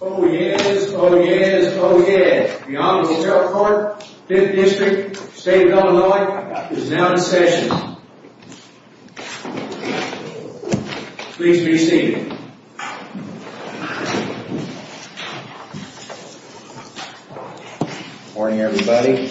Oh yes, oh yes, oh yes! The Honorable Sheriff Clark, 5th District, State of Illinois, is now in session. Please be seated. Morning everybody.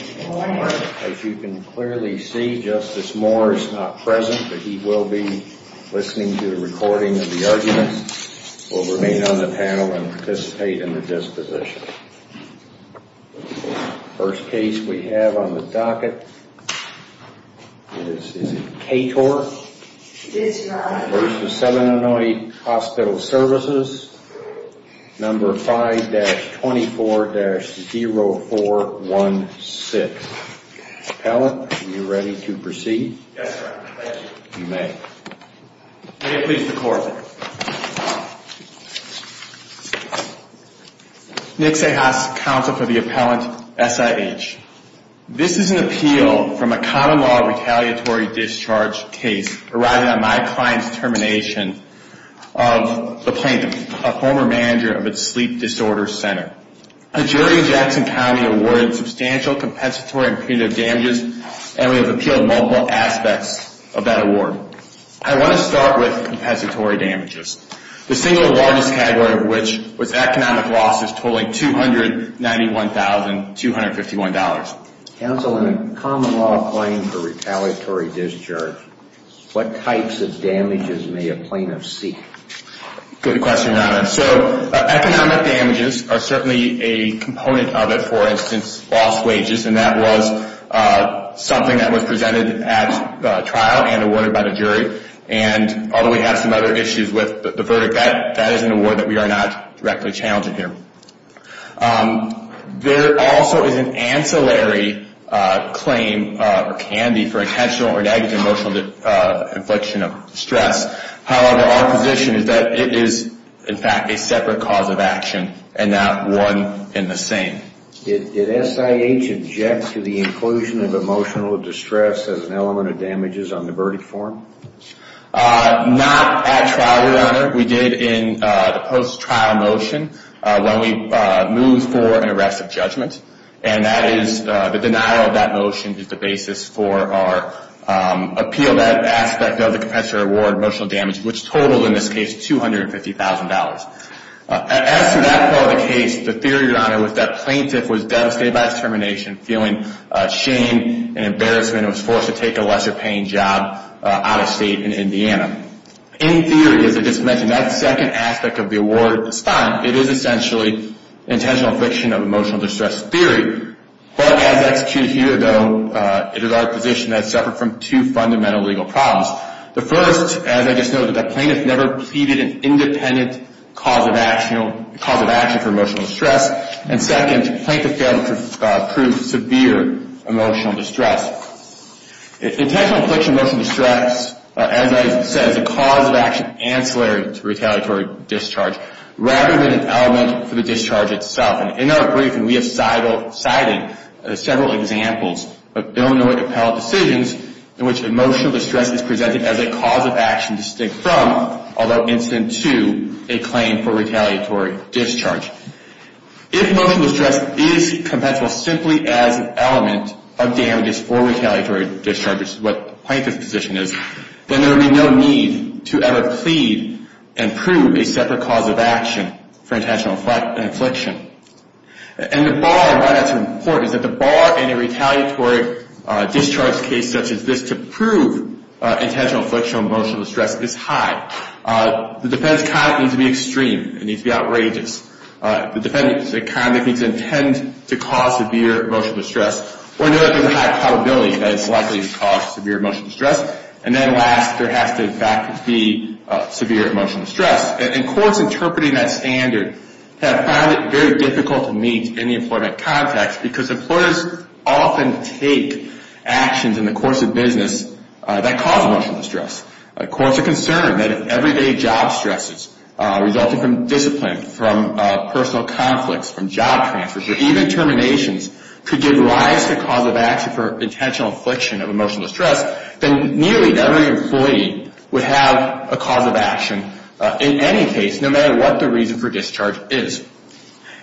As you can clearly see, Justice Moore is not present, but he will be listening to the recording of the argument. He will remain on the panel and participate in the disposition. The first case we have on the docket is Kator v. Southern Illinois Hospital Services, number 5-24-0416. Appellant, are you ready to proceed? Yes, sir. You may. May it please the Court. Nick Cejas, Counsel for the Appellant, SIH. This is an appeal from a common law retaliatory discharge case arising on my client's termination of the plaintiff, a former manager of a sleep disorder center. A jury in Jackson County awarded substantial compensatory and punitive damages, and we have appealed multiple aspects of that award. I want to start with compensatory damages, the single largest category of which was economic losses totaling $291,251. Counsel, in a common law claim for retaliatory discharge, what types of damages may a plaintiff seek? Good question, Your Honor. So, economic damages are certainly a component of it. For instance, lost wages, and that was something that was presented at trial and awarded by the jury. And although we have some other issues with the verdict, that is an award that we are not directly challenging here. There also is an ancillary claim, or can be, for intentional or negative emotional infliction of stress. However, our position is that it is, in fact, a separate cause of action, and not one and the same. Did SIH object to the inclusion of emotional distress as an element of damages on the verdict form? Not at trial, Your Honor. We did in the post-trial motion when we moved for an arrest of judgment. And that is, the denial of that motion is the basis for our appeal. That aspect of the compensatory award, emotional damage, which totaled, in this case, $250,000. As to that part of the case, the theory, Your Honor, was that plaintiff was devastated by his termination, feeling shame and embarrassment, and was forced to take a lesser-paying job out of state in Indiana. In theory, as I just mentioned, that second aspect of the award is fine. It is essentially intentional infliction of emotional distress theory. But, as executed here, though, it is our position that it's separate from two fundamental legal problems. The first, as I just noted, that plaintiff never pleaded an independent cause of action for emotional distress. And second, plaintiff failed to prove severe emotional distress. Intentional infliction of emotional distress, as I said, is a cause of action ancillary to retaliatory discharge. Rather than an element for the discharge itself. And in our briefing, we have cited several examples of Illinois appellate decisions in which emotional distress is presented as a cause of action to stick from, although incident to, a claim for retaliatory discharge. If emotional distress is compensable simply as an element of damages for retaliatory discharge, which is what the plaintiff's position is, then there would be no need to ever plead and prove a separate cause of action for intentional infliction. And the bar, why that's important, is that the bar in a retaliatory discharge case such as this to prove intentional infliction of emotional distress is high. The defendant's conduct needs to be extreme. It needs to be outrageous. The defendant's conduct needs to intend to cause severe emotional distress or know that there's a high probability that it's likely to cause severe emotional distress. And then last, there has to, in fact, be severe emotional distress. And courts interpreting that standard have found it very difficult to meet in the employment context because employers often take actions in the course of business that cause emotional distress. Courts are concerned that if everyday job stresses resulting from discipline, from personal conflicts, from job transfers, or even terminations could give rise to a cause of action for intentional infliction of emotional distress, then nearly every employee would have a cause of action in any case, no matter what the reason for discharge is.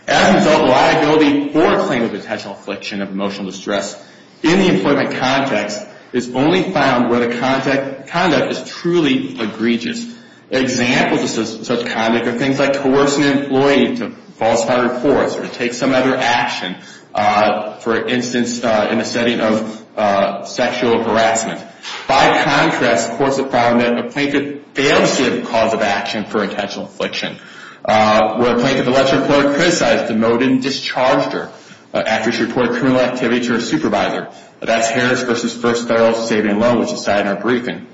As a result, liability for a claim of intentional infliction of emotional distress in the employment context is only found where the conduct is truly egregious. Examples of such conduct are things like coercing an employee to falsify reports or to take some other action, for instance, in the setting of sexual harassment. By contrast, courts have found that a plaintiff fails to give a cause of action for intentional infliction. Where a plaintiff lets her employer criticize, demote, and discharge her after she reported criminal activity to her supervisor. That's Harris v. First Federal Saving Loan, which is cited in our briefing.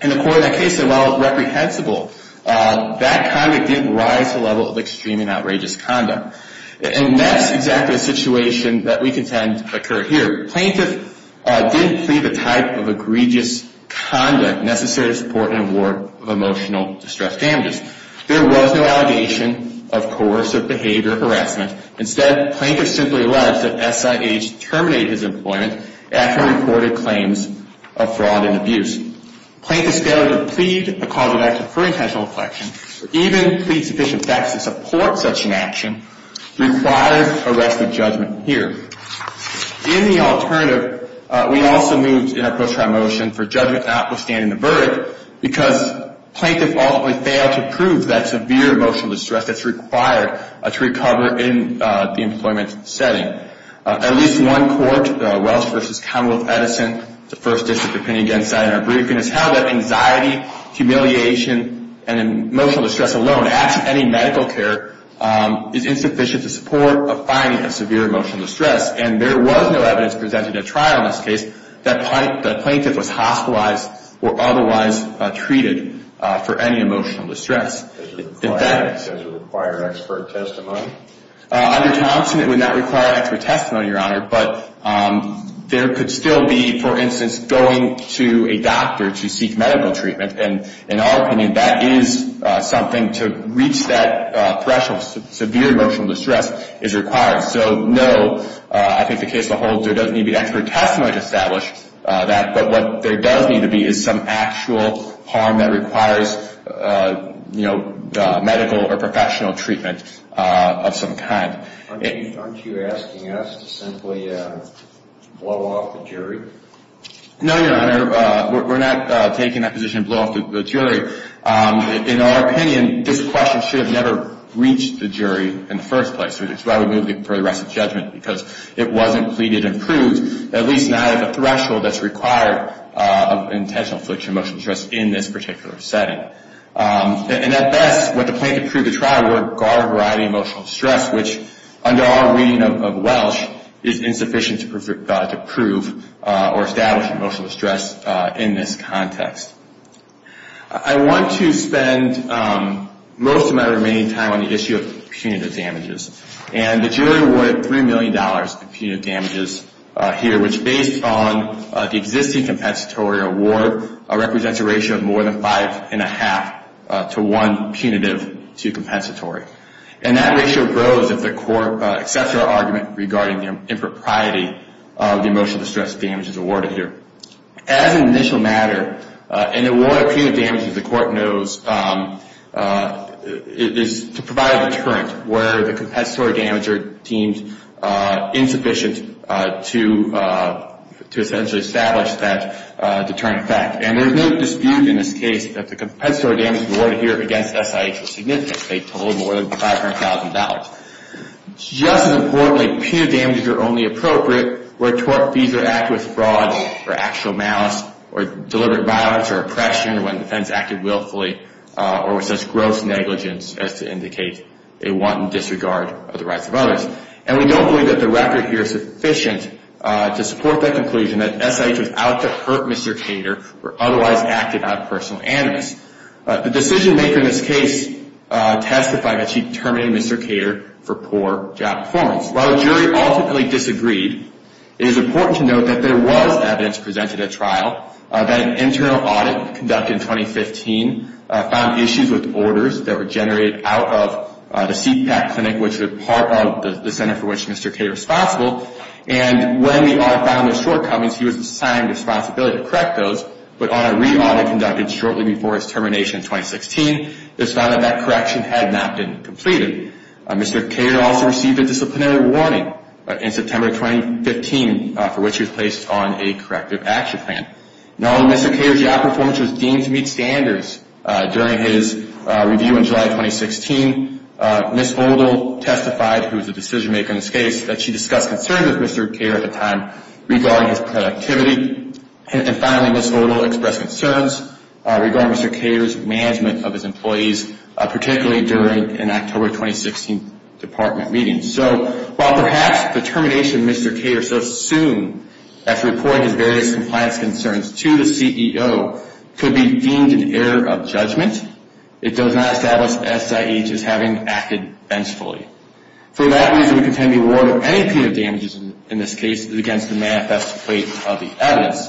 And according to that case, while reprehensible, that conduct didn't rise to the level of extremely outrageous conduct. And that's exactly the situation that we contend occurred here. Plaintiff didn't plead the type of egregious conduct necessary to support an award of emotional distress damages. There was no allegation of coercive behavior harassment. Instead, plaintiff simply alleged that SIH terminated his employment after he reported claims of fraud and abuse. Plaintiffs failed to plead a cause of action for intentional infliction, or even plead sufficient facts to support such an action, requires arrest of judgment here. In the alternative, we also moved in our post-trial motion for judgment notwithstanding the verdict because plaintiff ultimately failed to prove that severe emotional distress that's required to recover in the employment setting. At least one court, Welsh v. Commonwealth Edison, the first district opinion against that in our briefing, is how that anxiety, humiliation, and emotional distress alone at any medical care is insufficient to support a finding of severe emotional distress. And there was no evidence presented at trial in this case that the plaintiff was hospitalized or otherwise treated for any emotional distress. Does it require expert testimony? Under Thompson, it would not require expert testimony, Your Honor. But there could still be, for instance, going to a doctor to seek medical treatment. And in our opinion, that is something to reach that threshold. Severe emotional distress is required. So, no, I think the case will hold. There doesn't need to be expert testimony to establish that. But what there does need to be is some actual harm that requires, you know, medical or professional treatment of some kind. Aren't you asking us to simply blow off the jury? No, Your Honor. We're not taking that position to blow off the jury. In our opinion, this question should have never reached the jury in the first place. It's why we moved it for the rest of the judgment, because it wasn't pleaded and proved, at least not at the threshold that's required of intentional emotional distress in this particular setting. And at best, what the plaintiff could prove at trial would regard a variety of emotional distress, which, under our reading of Welsh, is insufficient to prove or establish emotional distress in this context. I want to spend most of my remaining time on the issue of punitive damages. And the jury awarded $3 million in punitive damages here, which, based on the existing compensatory award, represents a ratio of more than five and a half to one punitive to compensatory. And that ratio grows if the court accepts our argument regarding the impropriety of the emotional distress damages awarded here. As an initial matter, an award of punitive damages, the court knows, is to provide a deterrent where the compensatory damage teems insufficient to essentially establish that deterrent effect. And there's no dispute in this case that the compensatory damage awarded here against SIH is significant. They totaled more than $500,000. Just as importantly, punitive damages are only appropriate where tort fees are acted with fraud or actual malice or deliberate violence or oppression when the offense acted willfully or with such gross negligence as to indicate a wanton disregard of the rights of others. And we don't believe that the record here is sufficient to support that conclusion that SIH was out to hurt Mr. Cater or otherwise acted out of personal animus. The decision maker in this case testified that she terminated Mr. Cater for poor job performance. While the jury ultimately disagreed, it is important to note that there was evidence presented at trial that an internal audit conducted in 2015 found issues with orders that were generated out of the CPAC clinic, which was part of the center for which Mr. Cater was responsible. And when the audit found those shortcomings, he was assigned the responsibility to correct those. But on a re-audit conducted shortly before his termination in 2016, it was found that that correction had not been completed. Mr. Cater also received a disciplinary warning in September 2015 for which he was placed on a corrective action plan. Knowing Mr. Cater's job performance was deemed to meet standards during his review in July 2016, Ms. Oldall testified, who was the decision maker in this case, that she discussed concerns with Mr. Cater at the time regarding his productivity. And finally, Ms. Oldall expressed concerns regarding Mr. Cater's management of his employees, particularly during an October 2016 department meeting. So, while perhaps the termination of Mr. Cater so soon, after reporting his various compliance concerns to the CEO, could be deemed an error of judgment, it does not establish SIH as having acted vengefully. For that reason, we contend the reward of any punitive damages in this case is against the manifest plate of the evidence.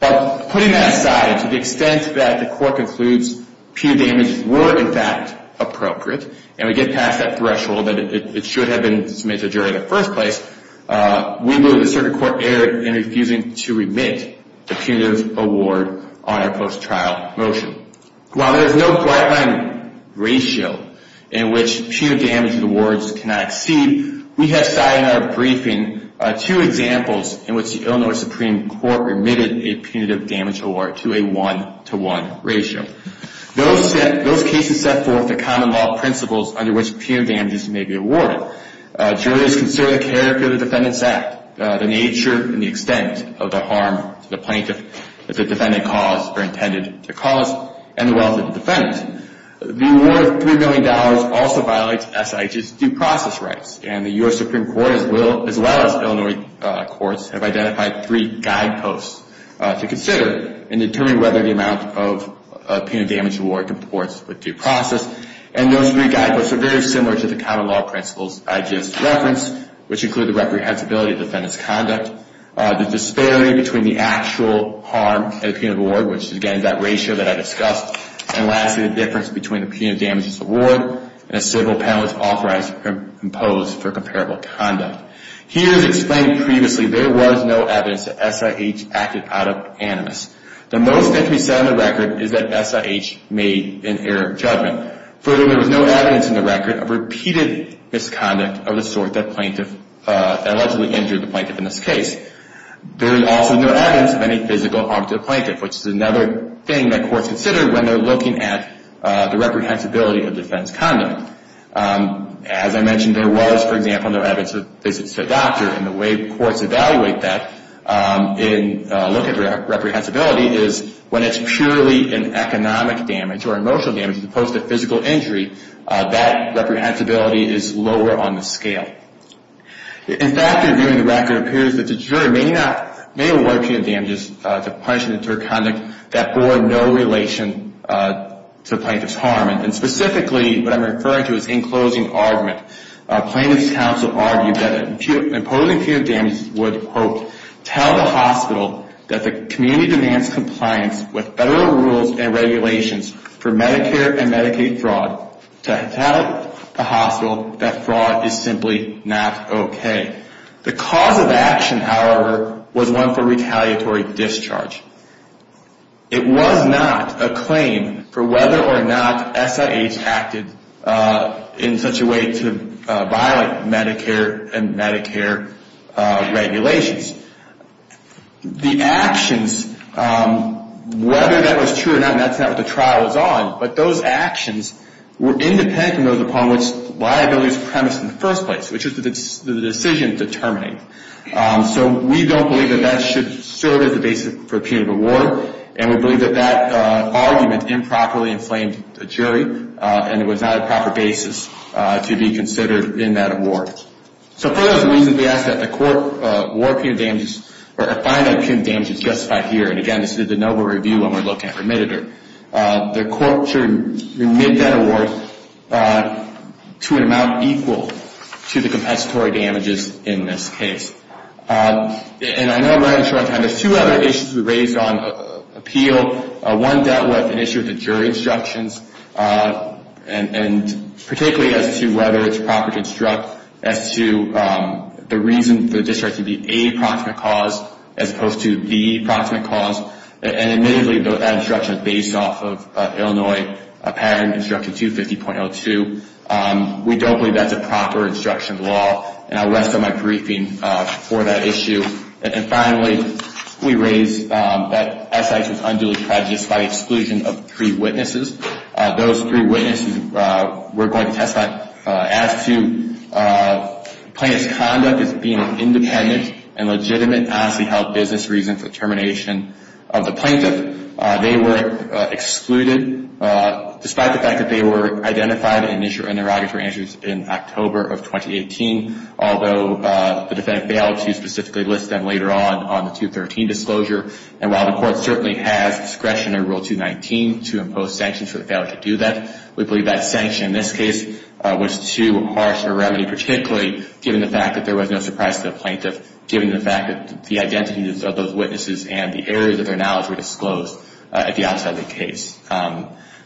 Putting that aside, to the extent that the court concludes punitive damages were, in fact, appropriate, and we get past that threshold that it should have been submitted during the first place, we move that the circuit court err in refusing to remit the punitive award on our post-trial motion. While there is no guideline ratio in which punitive damages awards cannot exceed, we have cited in our briefing two examples in which the Illinois Supreme Court remitted a punitive damage award to a one-to-one ratio. Those cases set forth the common law principles under which punitive damages may be awarded. Jury has considered the character of the defendant's act, the nature and the extent of the harm to the plaintiff that the defendant caused or intended to cause, and the well-being of the defendant. The reward of $3 million also violates SIH's due process rights. And the U.S. Supreme Court, as well as Illinois courts, have identified three guideposts to consider in determining whether the amount of punitive damage award comports with due process. And those three guideposts are very similar to the common law principles I just referenced, which include the reprehensibility of the defendant's conduct, the disparity between the actual harm and the punitive award, which is, again, that ratio that I discussed. And lastly, the difference between the punitive damages award and a civil penalty authorized or imposed for comparable conduct. Here, as explained previously, there was no evidence that SIH acted out of animus. The most that can be said on the record is that SIH made an error of judgment. Furthermore, there was no evidence in the record of repeated misconduct of the sort that plaintiff allegedly injured the plaintiff in this case. There is also no evidence of any physical harm to the plaintiff, which is another thing that courts consider when they're looking at the reprehensibility of defense conduct. As I mentioned, there was, for example, no evidence of visits to a doctor. And the way courts evaluate that in looking at reprehensibility is when it's purely an economic damage or emotional damage as opposed to physical injury, that reprehensibility is lower on the scale. In fact, reviewing the record, it appears that the juror may award punitive damages to punishments or conduct that bore no relation to the plaintiff's harm. And specifically, what I'm referring to is in closing argument. Plaintiff's counsel argued that imposing punitive damages would, quote, tell the hospital that the community demands compliance with federal rules and regulations for Medicare and Medicaid fraud to tell the hospital that fraud is simply not okay. The cause of action, however, was one for retaliatory discharge. It was not a claim for whether or not SIH acted in such a way to violate Medicare and Medicare regulations. The actions, whether that was true or not, and that's not what the trial was on, but those actions were independent from those upon which liability was premised in the first place, which was the decision to terminate. So we don't believe that that should serve as the basis for a punitive award, and we believe that that argument improperly inflamed the jury, and it was not a proper basis to be considered in that award. So for those reasons, we ask that the court warrant punitive damages or find that punitive damages justified here. And again, this is a de novo review when we're looking at remitted. The court should remit that award to an amount equal to the compensatory damages in this case. And I know I'm running short on time. There's two other issues we raised on appeal. One dealt with an issue with the jury instructions, and particularly as to whether it's proper to instruct as to the reason the discharge should be a proximate cause as opposed to the proximate cause. And admittedly, that instruction is based off of Illinois Patent Instruction 250.02. We don't believe that's a proper instruction law, and I'll rest on my briefing for that issue. And finally, we raised that SI was unduly prejudiced by exclusion of three witnesses. Those three witnesses were going to testify as to plaintiff's conduct as being independent and legitimate, and honestly held business reason for termination of the plaintiff. They were excluded despite the fact that they were identified in interrogatory answers in October of 2018, although the defendant failed to specifically list them later on on the 213 disclosure. And while the court certainly has discretion in Rule 219 to impose sanctions for the failure to do that, we believe that sanction in this case was too harsh a remedy, particularly given the fact that there was no surprise to the plaintiff, given the fact that the identities of those witnesses and the areas of their knowledge were disclosed at the outset of the case.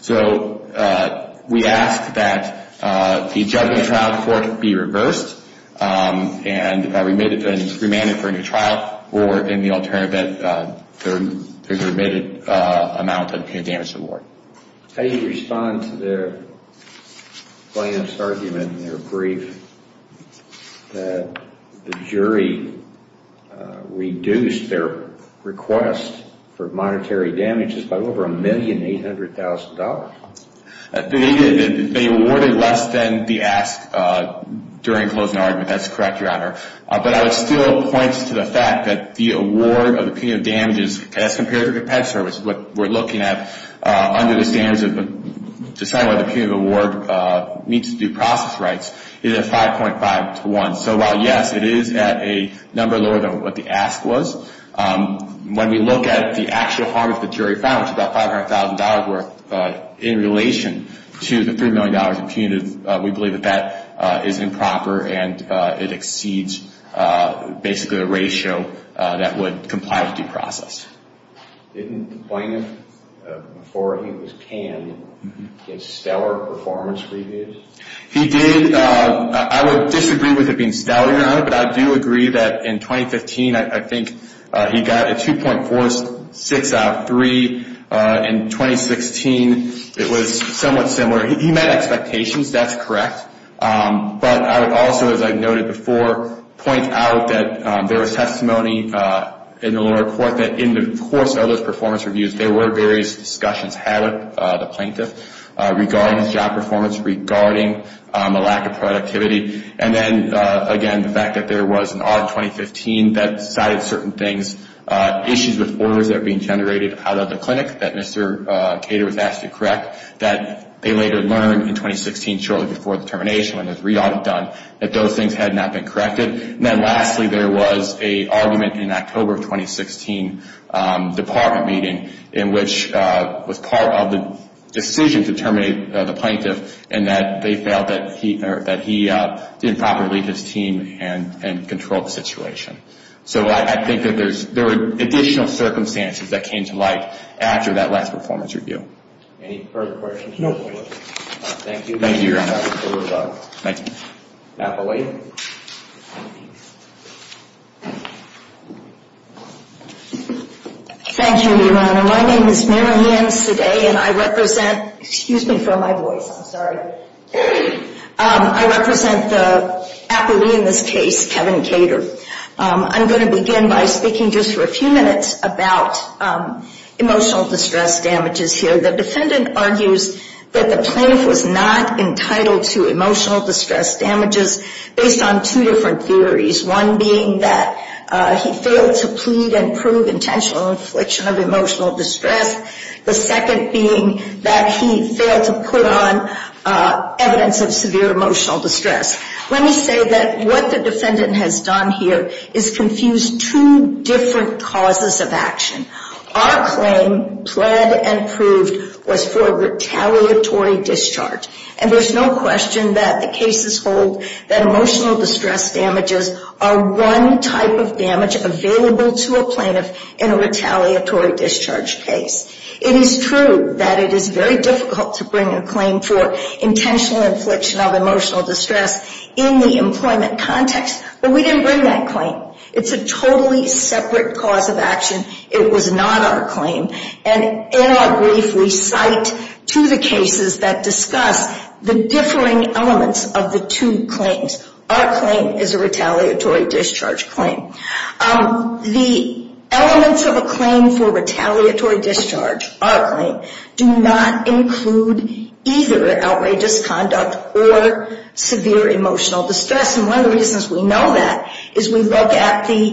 So we ask that the judgment trial court be reversed and remanded for a new trial or in the alternative that there's a remitted amount of damage to the ward. How do you respond to the plaintiff's argument in their brief that the jury reduced their request for monetary damages by over $1,800,000? They awarded less than the ask during the closing argument. That's correct, Your Honor. But I would still point to the fact that the award of the punitive damages, as compared to the pet service, what we're looking at under the standards of deciding whether the punitive award meets due process rights, is at 5.5 to 1. So while, yes, it is at a number lower than what the ask was, when we look at the actual harm that the jury found, which is about $500,000 worth in relation to the $3 million in punitive, we believe that that is improper and it exceeds basically the ratio that would comply with due process. Didn't the plaintiff, before he was canned, get stellar performance reviews? He did. I would disagree with it being stellar, Your Honor. But I do agree that in 2015, I think he got a 2.46 out of 3. In 2016, it was somewhat similar. He met expectations. That's correct. But I would also, as I noted before, point out that there was testimony in the lower court that in the course of those performance reviews, there were various discussions had at the plaintiff regarding his job performance, regarding the lack of productivity, and then, again, the fact that there was an odd 2015 that cited certain things, issues with orders that were being generated out of the clinic that Mr. Cater was asked to correct, that they later learned in 2016, shortly before the termination, when there was re-audit done, that those things had not been corrected. And then lastly, there was an argument in October of 2016, department meeting, in which was part of the decision to terminate the plaintiff, and that they felt that he didn't properly lead his team and control the situation. So I think that there were additional circumstances that came to light after that last performance review. Any further questions? No further questions. Thank you. Thank you, Your Honor. Thank you. Appellee. Thank you, Your Honor. My name is Mary Ann Seday and I represent, excuse me for my voice, I'm sorry. I represent the appellee in this case, Kevin Cater. I'm going to begin by speaking just for a few minutes about emotional distress damages here. The defendant argues that the plaintiff was not entitled to emotional distress damages based on two different theories. One being that he failed to plead and prove intentional infliction of emotional distress. The second being that he failed to put on evidence of severe emotional distress. Let me say that what the defendant has done here is confuse two different causes of action. Our claim, plead and proved, was for retaliatory discharge. And there's no question that the cases hold that emotional distress damages are one type of damage available to a plaintiff in a retaliatory discharge case. It is true that it is very difficult to bring a claim for intentional infliction of emotional distress in the employment context. But we didn't bring that claim. It's a totally separate cause of action. It was not our claim. And in our brief, we cite two of the cases that discuss the differing elements of the two claims. Our claim is a retaliatory discharge claim. The elements of a claim for retaliatory discharge, our claim, do not include either outrageous conduct or severe emotional distress. And one of the reasons we know that is we look at the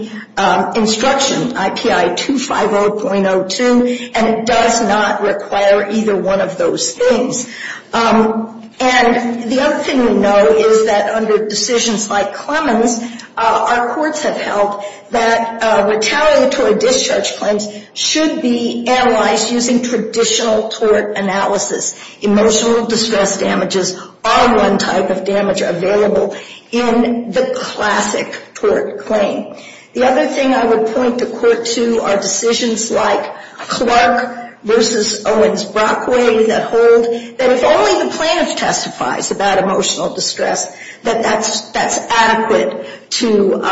instruction, IPI 250.02, and it does not require either one of those things. And the other thing we know is that under decisions like Clemens, our courts have held that retaliatory discharge claims should be analyzed using traditional tort analysis. Emotional distress damages are one type of damage available in the classic tort claim. The other thing I would point the court to are decisions like Clark v. Owens-Brockway that hold that if only the plaintiff testifies about emotional distress, that that's adequate to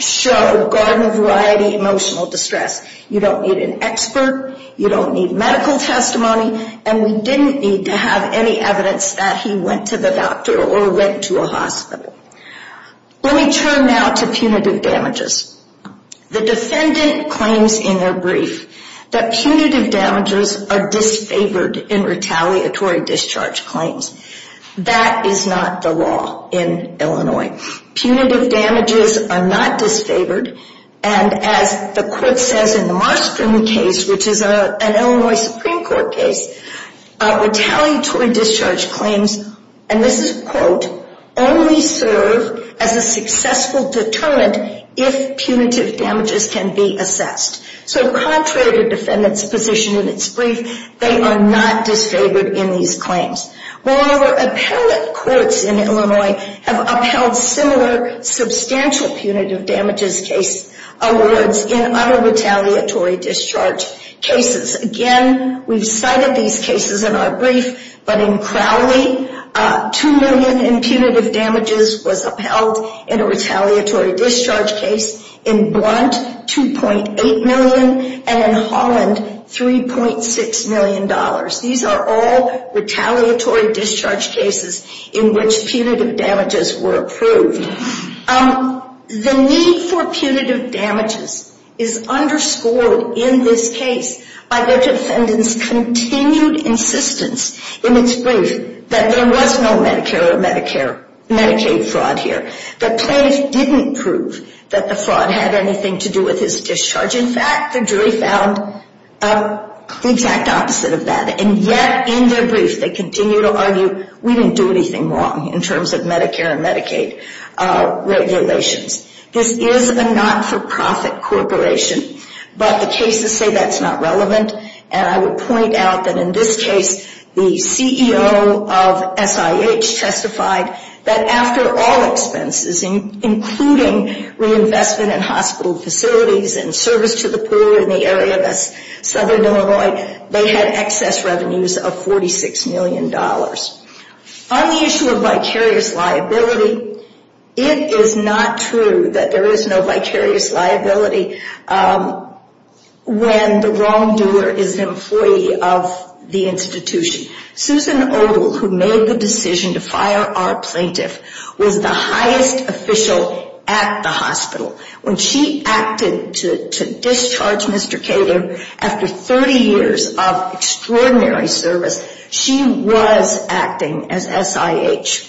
show garden-of-variety emotional distress. You don't need an expert. You don't need medical testimony. And we didn't need to have any evidence that he went to the doctor or went to a hospital. Let me turn now to punitive damages. The defendant claims in their brief that punitive damages are disfavored in retaliatory discharge claims. That is not the law in Illinois. Punitive damages are not disfavored. And as the court says in the Marston case, which is an Illinois Supreme Court case, retaliatory discharge claims, and this is a quote, only serve as a successful deterrent if punitive damages can be assessed. So contrary to the defendant's position in its brief, they are not disfavored in these claims. Moreover, appellate courts in Illinois have upheld similar substantial punitive damages case awards in other retaliatory discharge cases. Again, we've cited these cases in our brief. But in Crowley, $2 million in punitive damages was upheld in a retaliatory discharge case. In Blount, $2.8 million. And in Holland, $3.6 million. These are all retaliatory discharge cases in which punitive damages were approved. The need for punitive damages is underscored in this case by the defendant's continued insistence in its brief that there was no Medicare or Medicaid fraud here. The plaintiff didn't prove that the fraud had anything to do with his discharge. In fact, the jury found the exact opposite of that. And yet, in their brief, they continue to argue we didn't do anything wrong in terms of Medicare and Medicaid regulations. This is a not-for-profit corporation, but the cases say that's not relevant. And I would point out that in this case, the CEO of SIH testified that after all expenses, including reinvestment in hospital facilities and service to the poor in the area of southern Illinois, they had excess revenues of $46 million. On the issue of vicarious liability, it is not true that there is no vicarious liability when the wrongdoer is an employee of the institution. Susan Odle, who made the decision to fire our plaintiff, was the highest official at the hospital. When she acted to discharge Mr. Kader after 30 years of extraordinary service, she was acting as SIH.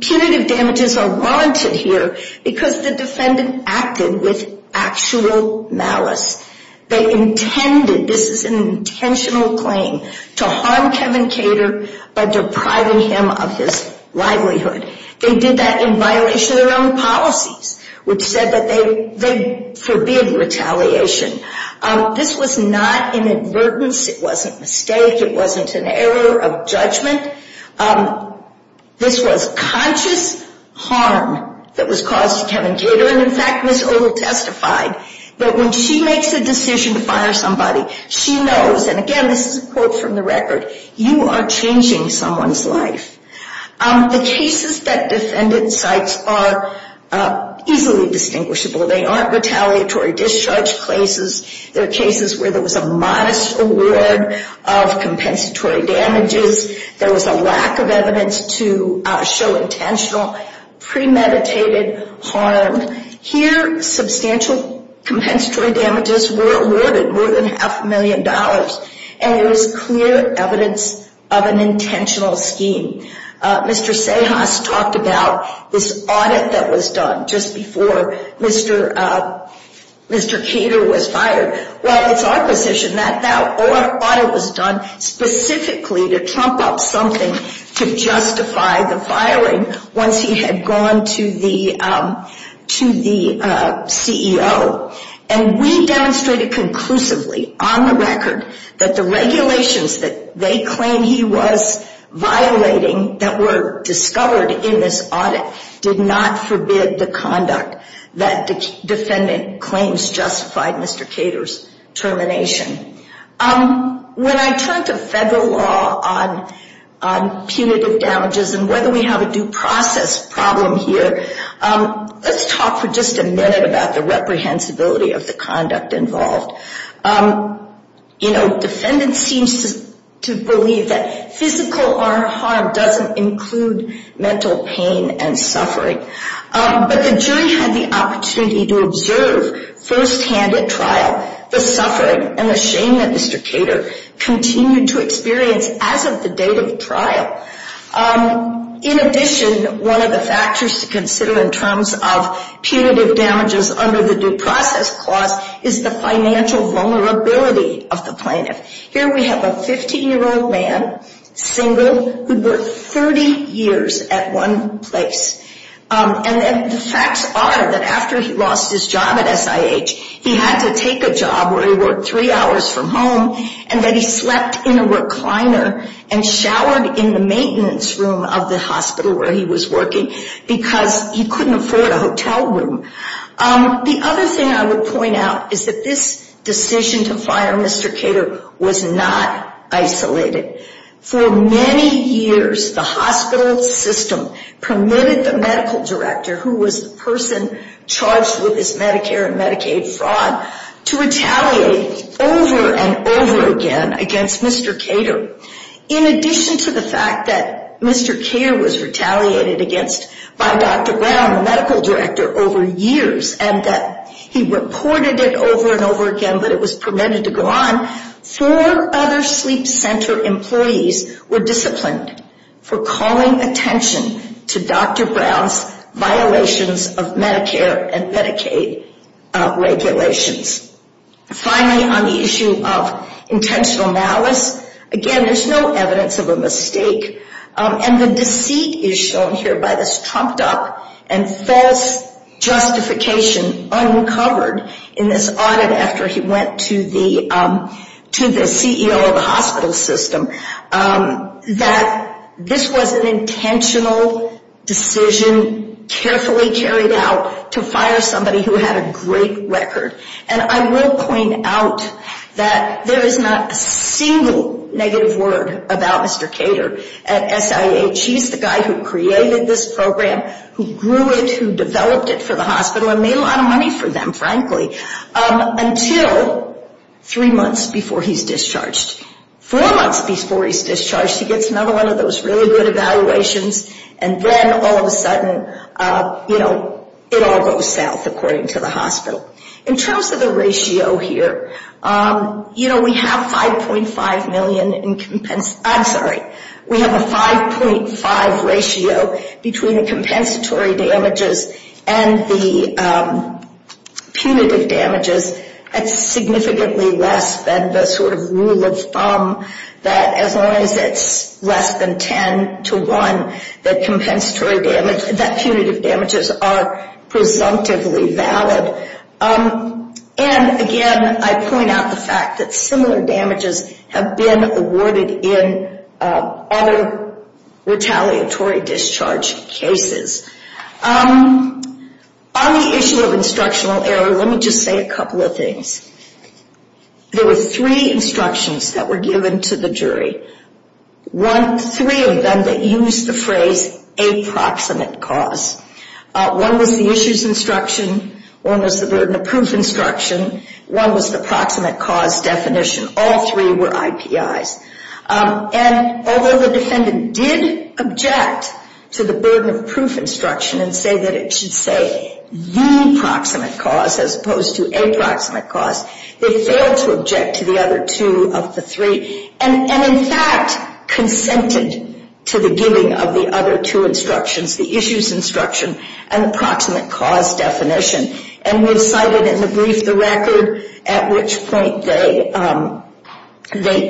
Punitive damages are warranted here because the defendant acted with actual malice. They intended, this is an intentional claim, to harm Kevin Kader by depriving him of his livelihood. They did that in violation of their own policies, which said that they forbid retaliation. This was not an advertence. It wasn't a mistake. It wasn't an error of judgment. This was conscious harm that was caused to Kevin Kader. And in fact, Ms. Odle testified that when she makes a decision to fire somebody, she knows, and again, this is a quote from the record, you are changing someone's life. The cases that defendants cite are easily distinguishable. They aren't retaliatory discharge cases. They are cases where there was a modest award of compensatory damages. There was a lack of evidence to show intentional, premeditated harm. Here, substantial compensatory damages were awarded, more than half a million dollars. And it was clear evidence of an intentional scheme. Mr. Sahas talked about this audit that was done just before Mr. Kader was fired. Well, it's our position that that audit was done specifically to trump up something to justify the firing once he had gone to the CEO. And we demonstrated conclusively on the record that the regulations that they claim he was violating that were discovered in this audit did not forbid the conduct that the defendant claims justified Mr. Kader's termination. When I turn to federal law on punitive damages and whether we have a due process problem here, let's talk for just a minute about the reprehensibility of the conduct involved. You know, defendants seem to believe that physical harm doesn't include mental pain and suffering. But the jury had the opportunity to observe firsthand at trial the suffering and the shame that Mr. Kader continued to experience as of the date of the trial. In addition, one of the factors to consider in terms of punitive damages under the due process clause is the financial vulnerability of the plaintiff. Here we have a 15-year-old man, single, who worked 30 years at one place. And the facts are that after he lost his job at SIH, he had to take a job where he worked three hours from home and that he slept in a recliner and showered in the maintenance room of the hospital where he was working because he couldn't afford a hotel room. The other thing I would point out is that this decision to fire Mr. Kader was not isolated. For many years, the hospital system permitted the medical director, who was the person charged with his Medicare and Medicaid fraud, to retaliate over and over again against Mr. Kader. In addition to the fact that Mr. Kader was retaliated against by Dr. Brown, the medical director, over years, and that he reported it over and over again, but it was permitted to go on, four other sleep center employees, were disciplined for calling attention to Dr. Brown's violations of Medicare and Medicaid regulations. Finally, on the issue of intentional malice, again, there's no evidence of a mistake. And the deceit is shown here by this trumped up and false justification uncovered in this audit after he went to the CEO of the hospital system that this was an intentional decision carefully carried out to fire somebody who had a great record. And I will point out that there is not a single negative word about Mr. Kader at SIH. He's the guy who created this program, who grew it, who developed it for the hospital, and made a lot of money for them, frankly, until three months before he's discharged. Four months before he's discharged, he gets another one of those really good evaluations, and then all of a sudden, you know, it all goes south, according to the hospital. In terms of the ratio here, you know, we have 5.5 million in, I'm sorry, we have a 5.5 ratio between the compensatory damages and the punitive damages. That's significantly less than the sort of rule of thumb that as long as it's less than 10 to 1, that compensatory damage, that punitive damages are presumptively valid. And again, I point out the fact that similar damages have been awarded in other retaliatory discharge cases. On the issue of instructional error, let me just say a couple of things. There were three instructions that were given to the jury. Three of them that used the phrase, a proximate cause. One was the issues instruction, one was the burden of proof instruction, one was the proximate cause definition. All three were IPIs. And although the defendant did object to the burden of proof instruction and say that it should say the proximate cause as opposed to a proximate cause, they failed to object to the other two of the three. And in fact, consented to the giving of the other two instructions, the issues instruction and the proximate cause definition. And we've cited in the brief the record at which point they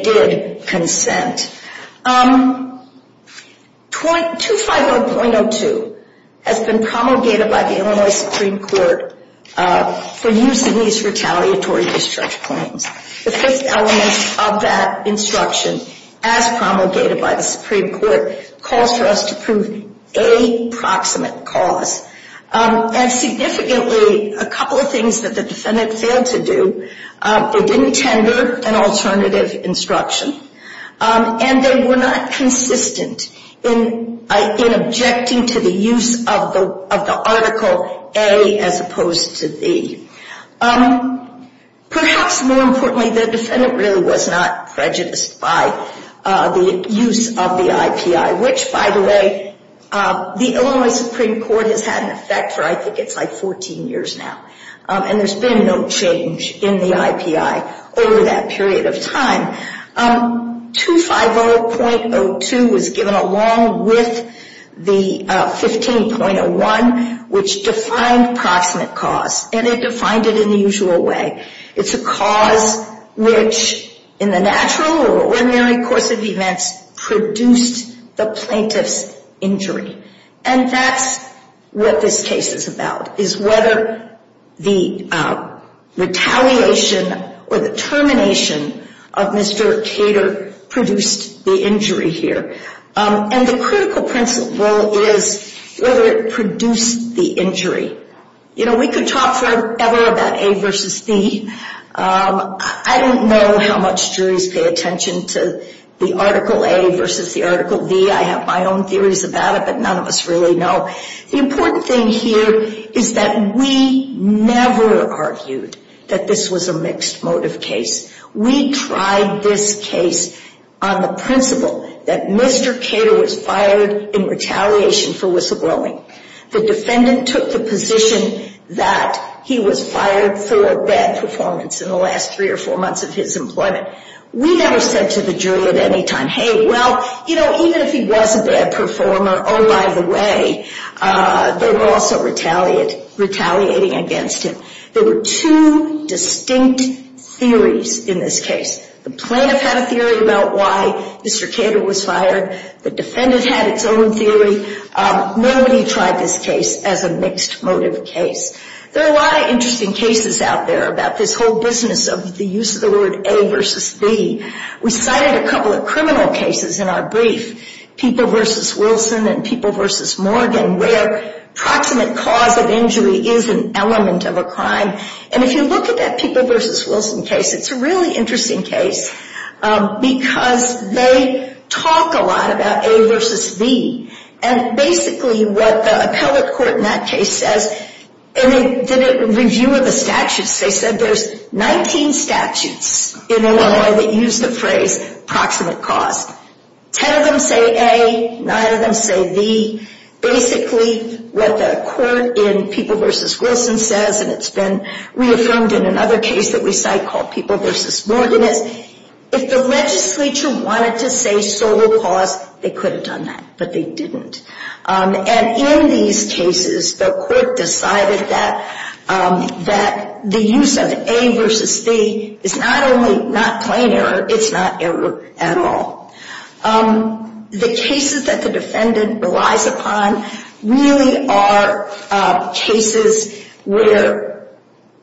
did consent. 250.02 has been promulgated by the Illinois Supreme Court for use in these retaliatory discharge claims. The fifth element of that instruction, as promulgated by the Supreme Court, calls for us to prove a proximate cause. And significantly, a couple of things that the defendant failed to do, they didn't tender an alternative instruction. And they were not consistent in objecting to the use of the article A as opposed to B. Perhaps more importantly, the defendant really was not prejudiced by the use of the IPI. Which, by the way, the Illinois Supreme Court has had an effect for I think it's like 14 years now. And there's been no change in the IPI over that period of time. 250.02 was given along with the 15.01, which defined proximate cause. And it defined it in the usual way. It's a cause which in the natural or ordinary course of events produced the plaintiff's injury. And that's what this case is about, is whether the retaliation or the termination of Mr. Cater produced the injury here. And the critical principle is whether it produced the injury. You know, we could talk forever about A versus B. I don't know how much juries pay attention to the article A versus the article B. I have my own theories about it, but none of us really know. The important thing here is that we never argued that this was a mixed motive case. We tried this case on the principle that Mr. Cater was fired in retaliation for whistleblowing. The defendant took the position that he was fired for a bad performance in the last three or four months of his employment. We never said to the jury at any time, hey, well, you know, even if he was a bad performer, oh, by the way, they were also retaliating against him. There were two distinct theories in this case. The plaintiff had a theory about why Mr. Cater was fired. The defendant had its own theory. Nobody tried this case as a mixed motive case. There are a lot of interesting cases out there about this whole business of the use of the word A versus B. We cited a couple of criminal cases in our brief, People v. Wilson and People v. Morgan, where proximate cause of injury is an element of a crime. And if you look at that People v. Wilson case, it's a really interesting case because they talk a lot about A versus B. And basically what the appellate court in that case says, and they did a review of the statutes, they said there's 19 statutes in Illinois that use the phrase proximate cause. Ten of them say A, nine of them say B. Basically what the court in People v. Wilson says, and it's been reaffirmed in another case that we cite called People v. Morgan, is if the legislature wanted to say sole cause, they could have done that, but they didn't. And in these cases, the court decided that the use of A versus B is not only not plain error, it's not error at all. The cases that the defendant relies upon really are cases where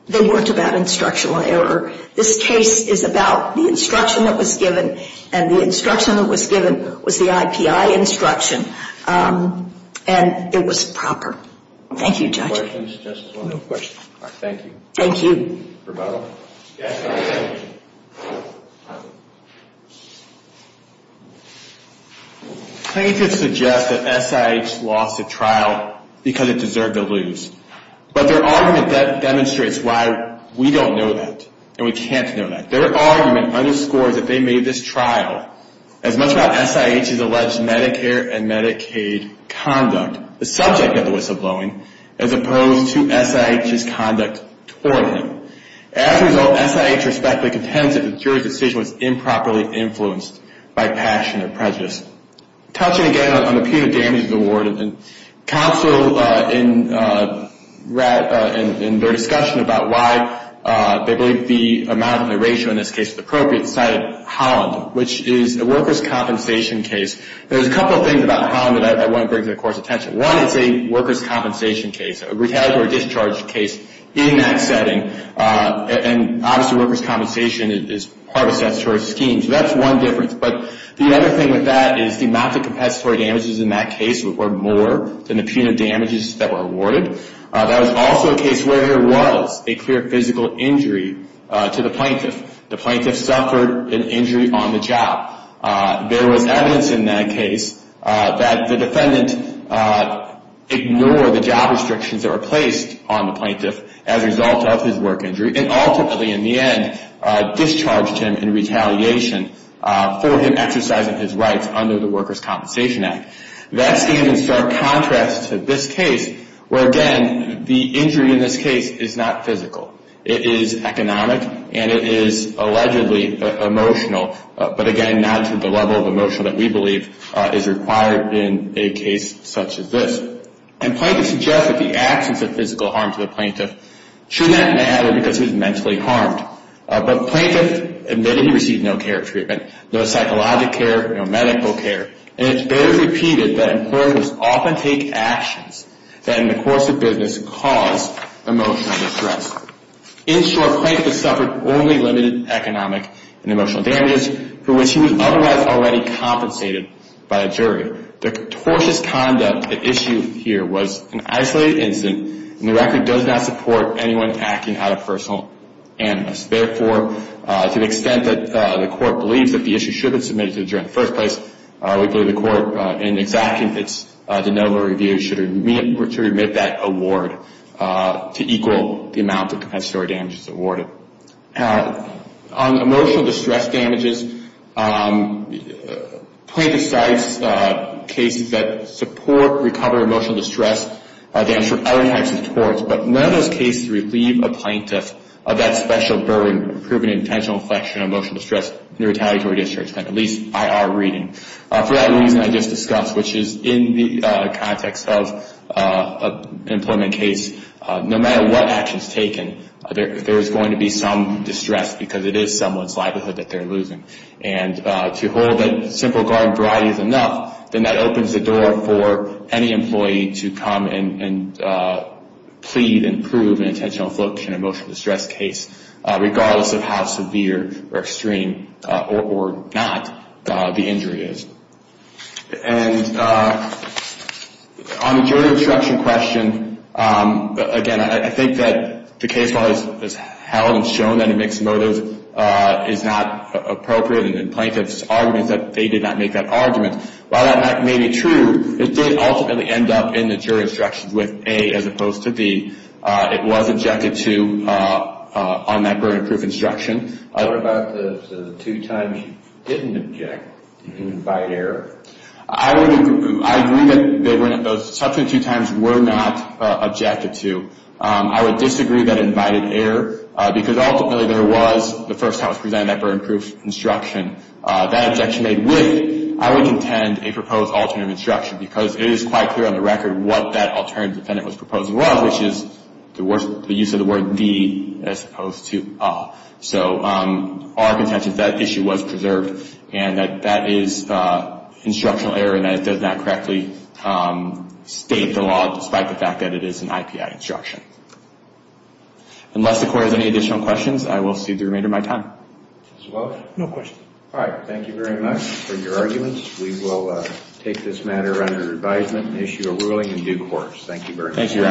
they worked about instructional error. This case is about the instruction that was given, and the instruction that was given was the IPI instruction, and it was proper. Thank you, Judge. Plaintiffs suggest that SIH lost the trial because it deserved to lose. But their argument demonstrates why we don't know that, and we can't know that. Their argument underscores that they made this trial as much about SIH's alleged Medicare and Medicaid conduct, the subject of the whistleblowing, as opposed to SIH's conduct toward him. As a result, SIH respectfully contends that the jury's decision was improperly influenced by passion or prejudice. Touching again on the punitive damages award, and counsel in their discussion about why they believe the amount and the ratio in this case is appropriate, cited Holland, which is a workers' compensation case. There's a couple of things about Holland that I want to bring to the Court's attention. One is a workers' compensation case, a retaliatory discharge case in that setting, and obviously workers' compensation is part of statutory schemes. That's one difference, but the other thing with that is the amount of compensatory damages in that case were more than the punitive damages that were awarded. That was also a case where there was a clear physical injury to the plaintiff. The plaintiff suffered an injury on the job. There was evidence in that case that the defendant ignored the job restrictions that were placed on the plaintiff as a result of his work injury and ultimately, in the end, discharged him in retaliation for him exercising his rights under the Workers' Compensation Act. That stands in stark contrast to this case where, again, the injury in this case is not physical. It is economic, and it is allegedly emotional, but again, not to the level of emotional that we believe is required in a case such as this. And plaintiff suggests that the absence of physical harm to the plaintiff should not matter because he was mentally harmed. But plaintiff admitted he received no care treatment, no psychological care, no medical care, and it's better repeated that employers often take actions that, in the course of business, cause emotional distress. In short, plaintiff suffered only limited economic and emotional damages for which he was otherwise already compensated by a jury. The tortious conduct at issue here was an isolated incident, and the record does not support anyone acting out of personal animus. Therefore, to the extent that the court believes that the issue should have been submitted to the jury in the first place, we believe the court, in exacting its de novo review, should remit that award to equal the amount of compensatory damages awarded. On emotional distress damages, plaintiff cites cases that support recovery of emotional distress damage from other types of torts, but none of those cases relieve a plaintiff of that special burden of proven intentional inflection on emotional distress and retaliatory discharge. At least, I are reading. For that reason, I just discussed, which is in the context of an employment case, no matter what action is taken, there is going to be some distress, because it is someone's livelihood that they're losing. To hold that simple garden variety is enough, then that opens the door for any employee to come and plead and prove an intentional inflection on emotional distress case, regardless of how severe or extreme or not the injury is. On the jury instruction question, again, I think that the case law has held and shown that a mixed motive is not appropriate. Plaintiff's argument is that they did not make that argument. While that may be true, it did ultimately end up in the jury instructions with A as opposed to B. It was objected to on that burden of proof instruction. What about the two times you didn't invite error? I agree that those subsequent two times were not objected to. I would disagree that it invited error, because ultimately there was the first house presenting that burden of proof instruction. That objection made with, I would contend, a proposed alternative instruction, because it is quite clear on the record what that alternative defendant was proposing was, which is the use of the word D as opposed to A. Our contention is that issue was preserved and that that is instructional error and that it does not correctly state the law, despite the fact that it is an IPI instruction. Unless the court has any additional questions, I will cede the remainder of my time. Thank you very much for your arguments. We will take this matter under advisement and issue a ruling in due course. Thank you.